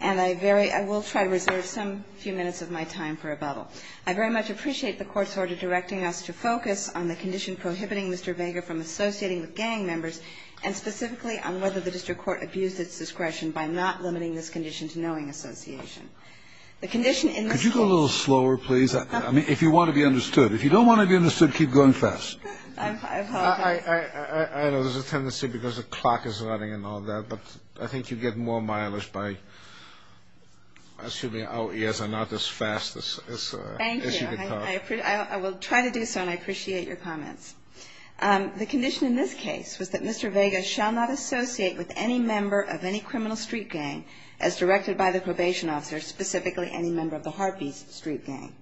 and I very I will try to reserve some few minutes of my time for a bubble. I very much appreciate the court's order directing us to focus on the condition prohibiting Mr. Vega from associating with gang members and specifically on whether the district court abused its discretion by not limiting this condition to knowing association. The condition in this case. Could you go a little slower, please? I mean, if you want to be understood. If you don't want to be understood, keep going fast. I apologize. I know there's a tendency because the clock is running and all that, but I think you get more mileage by assuming our ears are not as fast as you can tell. Thank you. I will try to do so and I appreciate your comments. The condition in this case was that Mr. Vega shall not associate with any member of any criminal street gang as directed by the probation officer, specifically any member of the Heartbeats street gang.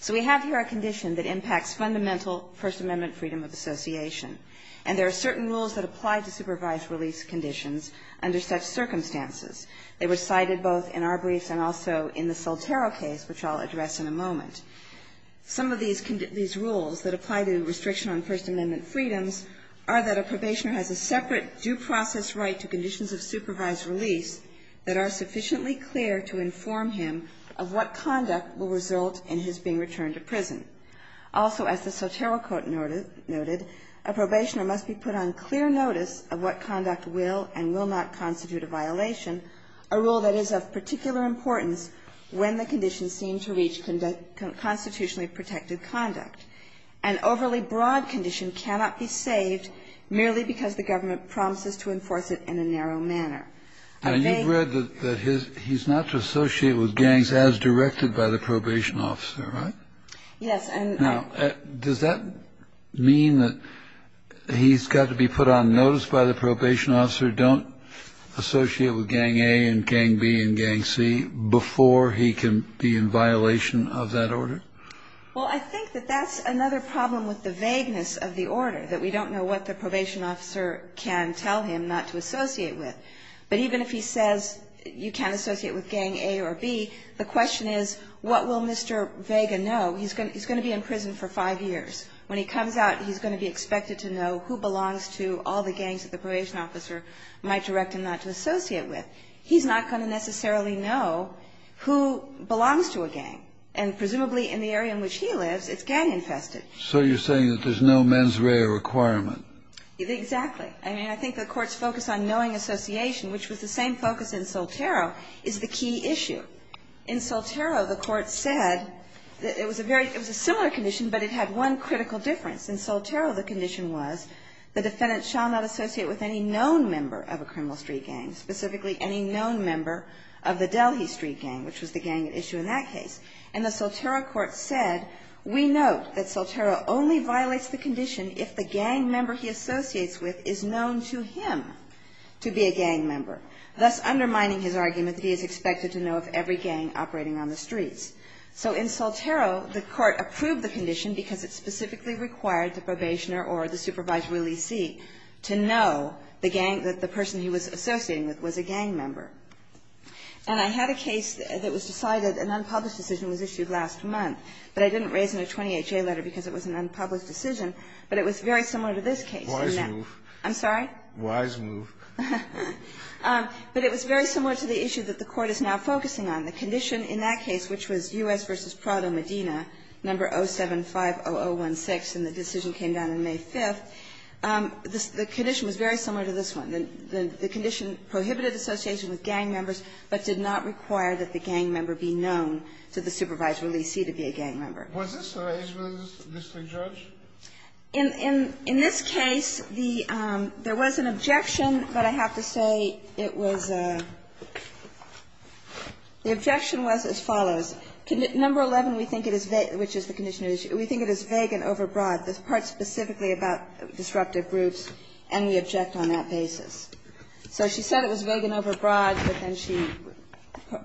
So we have here a condition that impacts fundamental First Amendment freedom of association. And there are certain rules that apply to supervised release conditions under such circumstances. They were cited both in our briefs and also in the Soltero case, which I'll address in a moment. Some of these rules that apply to restriction on First Amendment freedoms are that a probationer has a separate due process right to conditions of supervised release that are sufficiently clear to inform him of what conduct will result in his being returned to prison. Also, as the Soltero quote noted, a probationer must be put on clear notice of what conduct will and will not constitute a violation, a rule that is of particular importance when the conditions seem to reach constitutionally protected conduct. An overly broad condition cannot be saved merely because the government promises to enforce it in a narrow manner. And you've read that he's not to associate with gangs as directed by the probation officer, right? Yes. Now, does that mean that he's got to be put on notice by the probation officer, don't associate with gang A and gang B and gang C before he can be in violation of that order? Well, I think that that's another problem with the vagueness of the order, that we don't know what the probation officer can tell him not to associate with. But even if he says you can't associate with gang A or B, the question is what will Mr. Vega know? He's going to be in prison for five years. When he comes out, he's going to be expected to know who belongs to all the gangs that the probation officer might direct him not to associate with. He's not going to necessarily know who belongs to a gang. And presumably in the area in which he lives, it's gang-infested. So you're saying that there's no mens rea requirement? Exactly. I mean, I think the Court's focus on knowing association, which was the same focus in Soltero, is the key issue. In Soltero, the Court said that it was a very – it was a similar condition, but it had one critical difference. In Soltero, the condition was the defendant shall not associate with any known member of a criminal street gang, specifically any known member of the Delhi street gang, which was the gang at issue in that case. And the Soltero court said, we note that Soltero only violates the condition if the gang member he associates with is known to him to be a gang member, thus undermining his argument that he is expected to know of every gang operating on the streets. So in Soltero, the Court approved the condition because it specifically required the probationer or the supervisory lesee to know the gang that the person he was associating with was a gang member. And I had a case that was decided, an unpublished decision was issued last month, but I didn't raise it in a 28-J letter because it was an unpublished decision, but it was very similar to this case. I'm sorry? Wise move. But it was very similar to the issue that the Court is now focusing on. The condition in that case, which was U.S. v. Prado Medina, No. 075-0016, and the decision came down on May 5th, the condition was very similar to this one. The condition prohibited association with gang members, but did not require that the gang member be known to the supervisory lesee to be a gang member. Was this the arrangement, Mr. Judge? In this case, there was an objection, but I have to say it was the objection was as follows. No. 11, we think it is vague, which is the condition of the issue. We think it is vague and overbroad. This part is specifically about disruptive groups, and we object on that basis. So she said it was vague and overbroad, but then she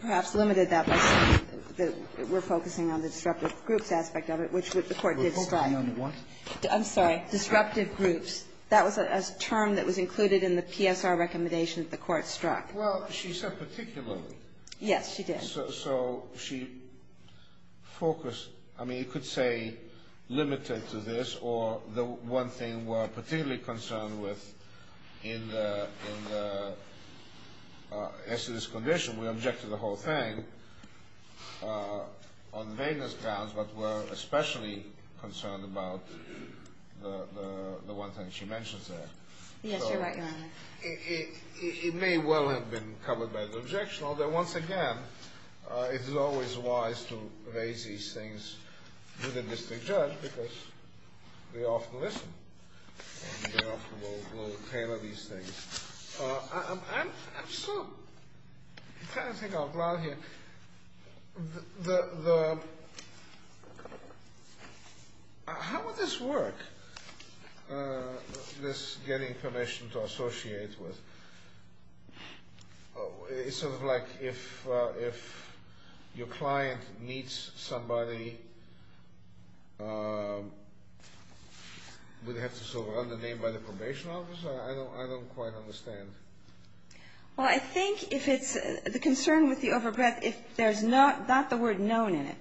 perhaps limited that by saying that we're focusing on the disruptive groups aspect of it, which the Court did strike. We're focusing on what? I'm sorry. Disruptive groups. That was a term that was included in the PSR recommendation that the Court struck. Well, she said particularly. Yes, she did. So she focused, I mean, you could say limited to this, or the one thing we're particularly concerned with in the, as to this condition, we object to the whole thing on vagueness grounds, but we're especially concerned about the one thing she mentions there. Yes, you're right, Your Honor. It may well have been covered by the objection, although once again, it is always wise to tailor these things. I'm sort of trying to think out loud here. How would this work, this getting permission to associate with? It's sort of like if your client meets somebody, would they have to sort of run the name by the probation officer? I don't quite understand. Well, I think if it's, the concern with the overbreadth, if there's not the word known in it,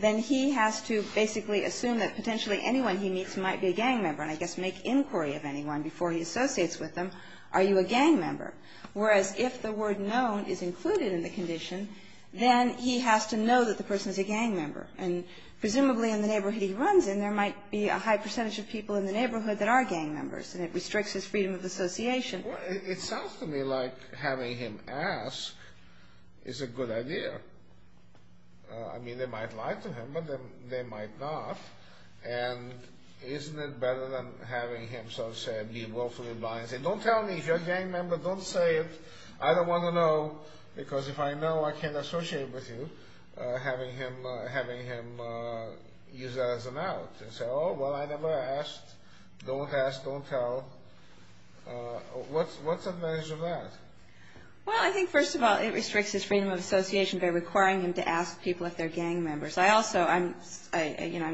then he has to basically assume that potentially anyone he meets might be a gang member, and I guess make inquiry of anyone before he associates with them, are you a Whereas if the word known is included in the condition, then he has to know that the person is a gang member, and presumably in the neighborhood he runs in, there might be a high percentage of people in the neighborhood that are gang members, and it restricts his freedom of association. It sounds to me like having him ask is a good idea. I mean, they might lie to him, but they might not, and isn't it better than having him sort I don't want to know, because if I know I can't associate with you, having him use that as an out, and say, oh, well, I never asked, don't ask, don't tell. What's the advantage of that? Well, I think, first of all, it restricts his freedom of association by requiring him to ask people if they're gang members. I also, I'm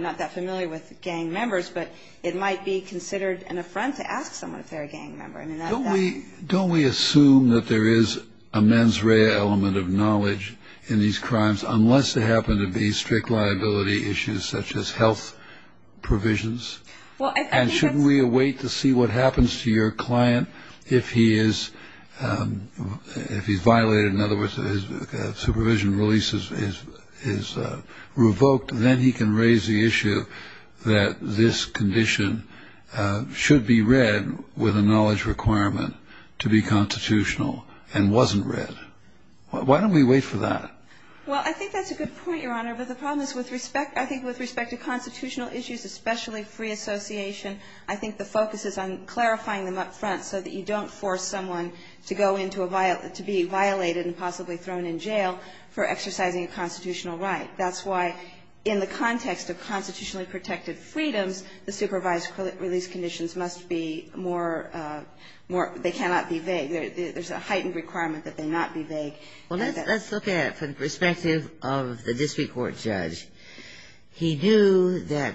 not that familiar with gang members, but it might be considered an affront to ask someone if they're a gang member. Don't we assume that there is a mens rea element of knowledge in these crimes, unless they happen to be strict liability issues such as health provisions? And shouldn't we await to see what happens to your client if he is violated, in other words, his supervision release is revoked, then he can raise the issue that this condition should be read with a knowledge requirement to be constitutional and wasn't read. Why don't we wait for that? Well, I think that's a good point, Your Honor, but the problem is with respect to constitutional issues, especially free association, I think the focus is on clarifying them up front so that you don't force someone to go into a violent, to be violated and possibly thrown in jail for exercising a constitutional right. That's why in the context of constitutionally protected freedoms, the supervised release conditions must be more, they cannot be vague. There's a heightened requirement that they not be vague. Well, let's look at it from the perspective of the district court judge. He knew that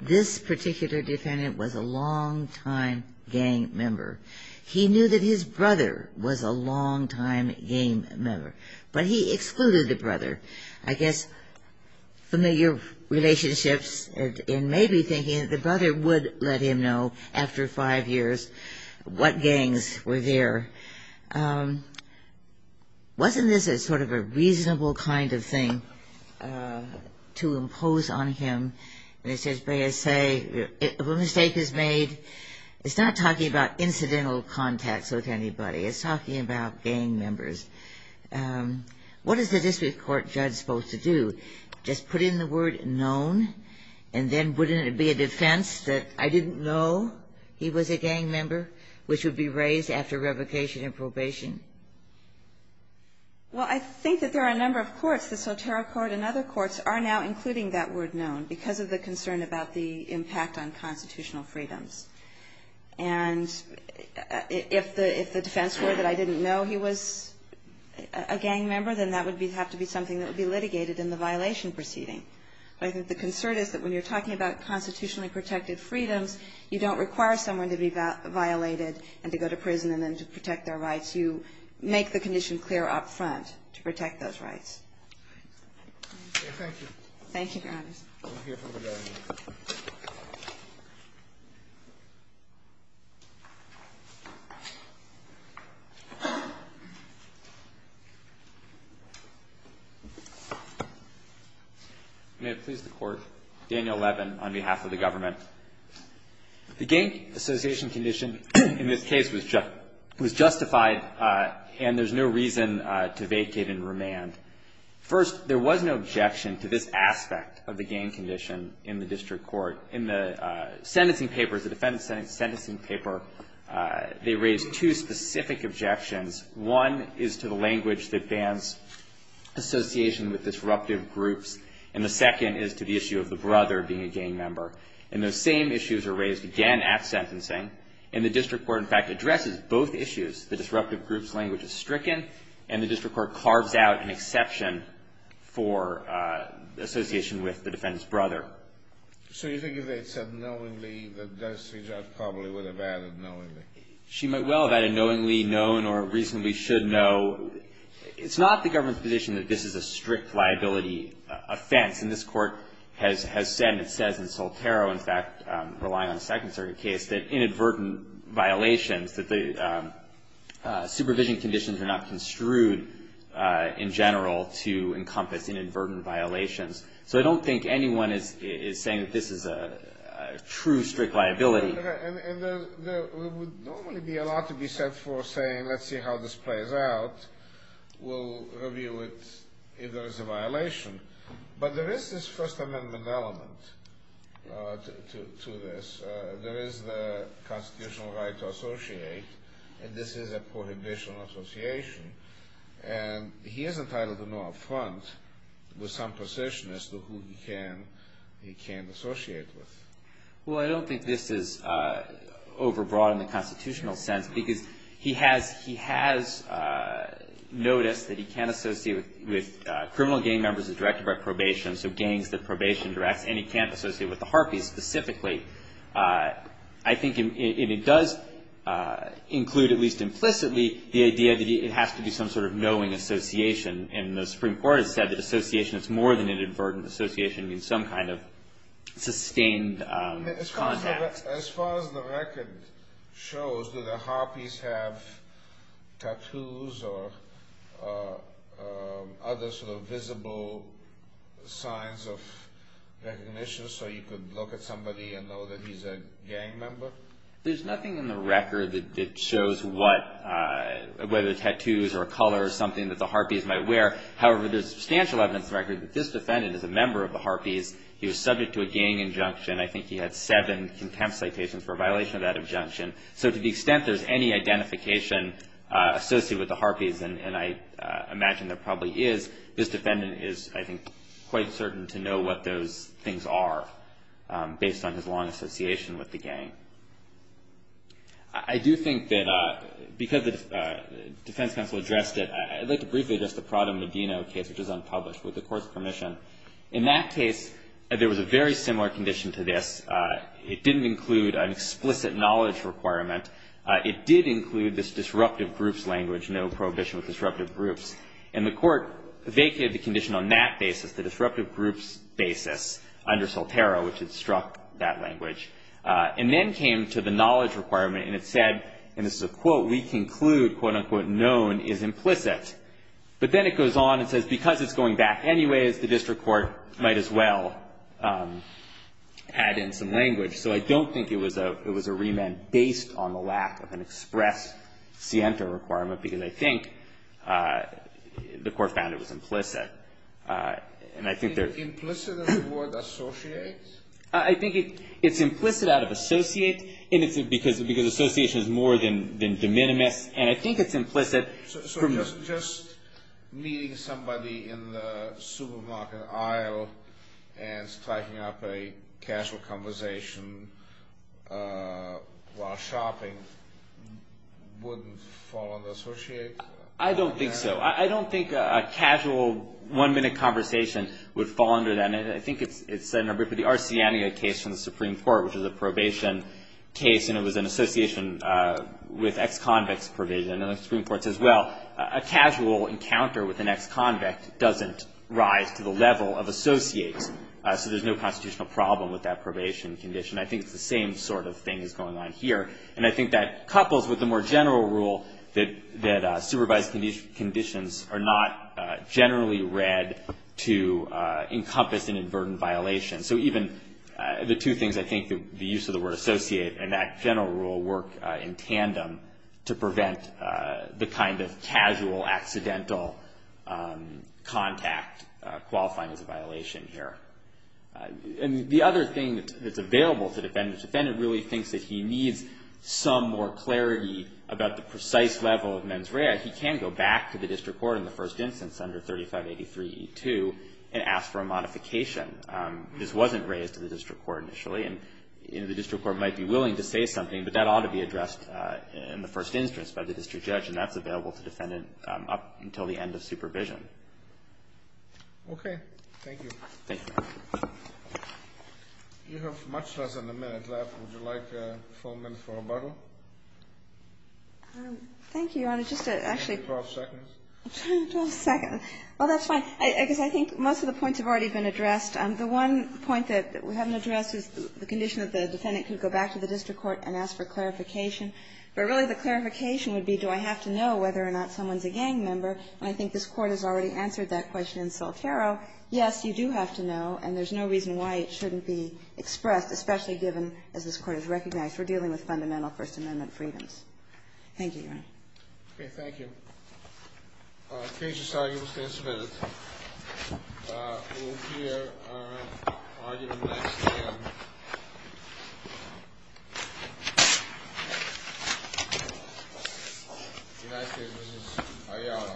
this particular defendant was a long-time gang member. He knew that his brother was a long-time gang member, but he excluded the brother. I guess familiar relationships and maybe thinking that the brother would let him know after five years what gangs were there. Wasn't this a sort of a reasonable kind of thing to impose on him? And it says, may I say, if a mistake is made, it's not talking about incidental contacts with anybody. It's talking about gang members. What is the district court judge supposed to do? Just put in the word known, and then wouldn't it be a defense that I didn't know he was a gang member, which would be raised after revocation and probation? Well, I think that there are a number of courts, the Sotero Court and other courts, are now including that word known because of the concern about the impact on constitutional freedoms. And if the defense were that I didn't know he was a gang member, then that would have to be something that would be litigated in the violation proceeding. But I think the concern is that when you're talking about constitutionally protected freedoms, you don't require someone to be violated and to go to prison and then to protect their rights. You make the condition clear up front to protect those rights. Thank you, Your Honors. May it please the Court. Daniel Levin on behalf of the government. The gang association condition in this case was justified, and there's no reason to vacate and remand. First, there was no objection to this aspect of the gang condition in the district court. In the sentencing papers, the defendant's sentencing paper, they raised two specific objections. One is to the language that bans association with disruptive groups, and the second is to the issue of the brother being a gang member. And those same issues are raised again at sentencing, and the district court, in fact, addresses both issues. The disruptive group's language is stricken, and the district court carves out an exception for association with the defendant's brother. So you think if they had said knowingly, the judge probably would have added knowingly. She might well have added knowingly, known, or reasonably should know. It's not the government's position that this is a strict liability offense. And this Court has said, and it says in Soltero, in fact, relying on a Second Circuit case, that inadvertent violations, that the supervision conditions are not construed in general to encompass inadvertent violations. So I don't think anyone is saying that this is a true strict liability. And there would normally be a lot to be said for saying, let's see how this plays out. We'll review it if there is a violation. But there is this First Amendment element to this. There is the constitutional right to associate, and this is a prohibitional association. And he is entitled to no affront with some possession as to who he can associate with. Well, I don't think this is overbroad in the constitutional sense, because he has noticed that he can't associate with criminal gang members that are directed by probation, so gangs that probation directs. And he can't associate with the Harpeys specifically. I think it does include, at least implicitly, the idea that it has to be some sort of knowing association. And the Supreme Court has said that association is more than an inadvertent association. It means some kind of sustained contact. As far as the record shows, do the Harpeys have tattoos or other sort of visible signs of recognition, so you could look at somebody and know that he's a gang member? There's nothing in the record that shows what, whether tattoos or color or something that the Harpeys might wear. However, there's substantial evidence in the record that this defendant is a member of the Harpeys. He was subject to a gang injunction. I think he had seven contempt citations for a violation of that injunction. So to the extent there's any identification associated with the Harpeys, and I imagine there probably is, this defendant is, I think, quite certain to know what those things are based on his long association with the gang. I do think that because the defense counsel addressed it, I'd like to briefly address the Prada Medina case, which was unpublished with the court's permission. In that case, there was a very similar condition to this. It didn't include an explicit knowledge requirement. It did include this disruptive groups language, no prohibition with disruptive groups. And the court vacated the condition on that basis, the disruptive groups basis, under Soltero, which had struck that language. And then came to the knowledge requirement, and it said, and this is a quote, we conclude, quote, unquote, known is implicit. But then it goes on and says because it's going back anyways, the district court might as well add in some language. So I don't think it was a remand based on the lack of an express sienta requirement, because I think the court found it was implicit. And I think they're Implicit in the word associate? I think it's implicit out of associate. And it's because association is more than de minimis. And I think it's implicit from So just meeting somebody in the supermarket aisle and striking up a casual conversation while shopping wouldn't fall under associate? I don't think so. I don't think a casual one-minute conversation would fall under that. And I think it's the Arsiana case from the Supreme Court, which is a probation case, and it was an association with ex-convicts provision. And the Supreme Court says, well, a casual encounter with an ex-convict doesn't rise to the level of associate, so there's no constitutional problem with that probation condition. I think it's the same sort of thing that's going on here. And I think that couples with the more general rule that supervised conditions are not generally read to encompass an inadvertent violation. So even the two things I think that the use of the word associate and that general rule work in tandem to prevent the kind of casual, accidental contact qualifying as a violation here. And the other thing that's available to defendant to defendant really thinks that he needs some more clarity about the precise level of mens rea. He can go back to the district court in the first instance under 3583e2 and ask for a modification. This wasn't raised to the district court initially. And the district court might be willing to say something, but that ought to be addressed in the first instance by the district judge, and that's available to defendant up until the end of supervision. Okay. Thank you, Your Honor. You have much less than a minute left. Would you like a full minute for rebuttal? Thank you, Your Honor. Just to actually. Twelve seconds. Twelve seconds. Well, that's fine. Because I think most of the points have already been addressed. could go back to the district court and ask for clarification. But really the clarification would be, do I have to know whether or not someone's a gang member? And I think this Court has already answered that question in Soltero. Yes, you do have to know, and there's no reason why it shouldn't be expressed, especially given, as this Court has recognized, we're dealing with fundamental First Amendment freedoms. Thank you, Your Honor. Thank you. Case is now used and submitted. We'll hear argument next again. The next case is Ayala. Thank you.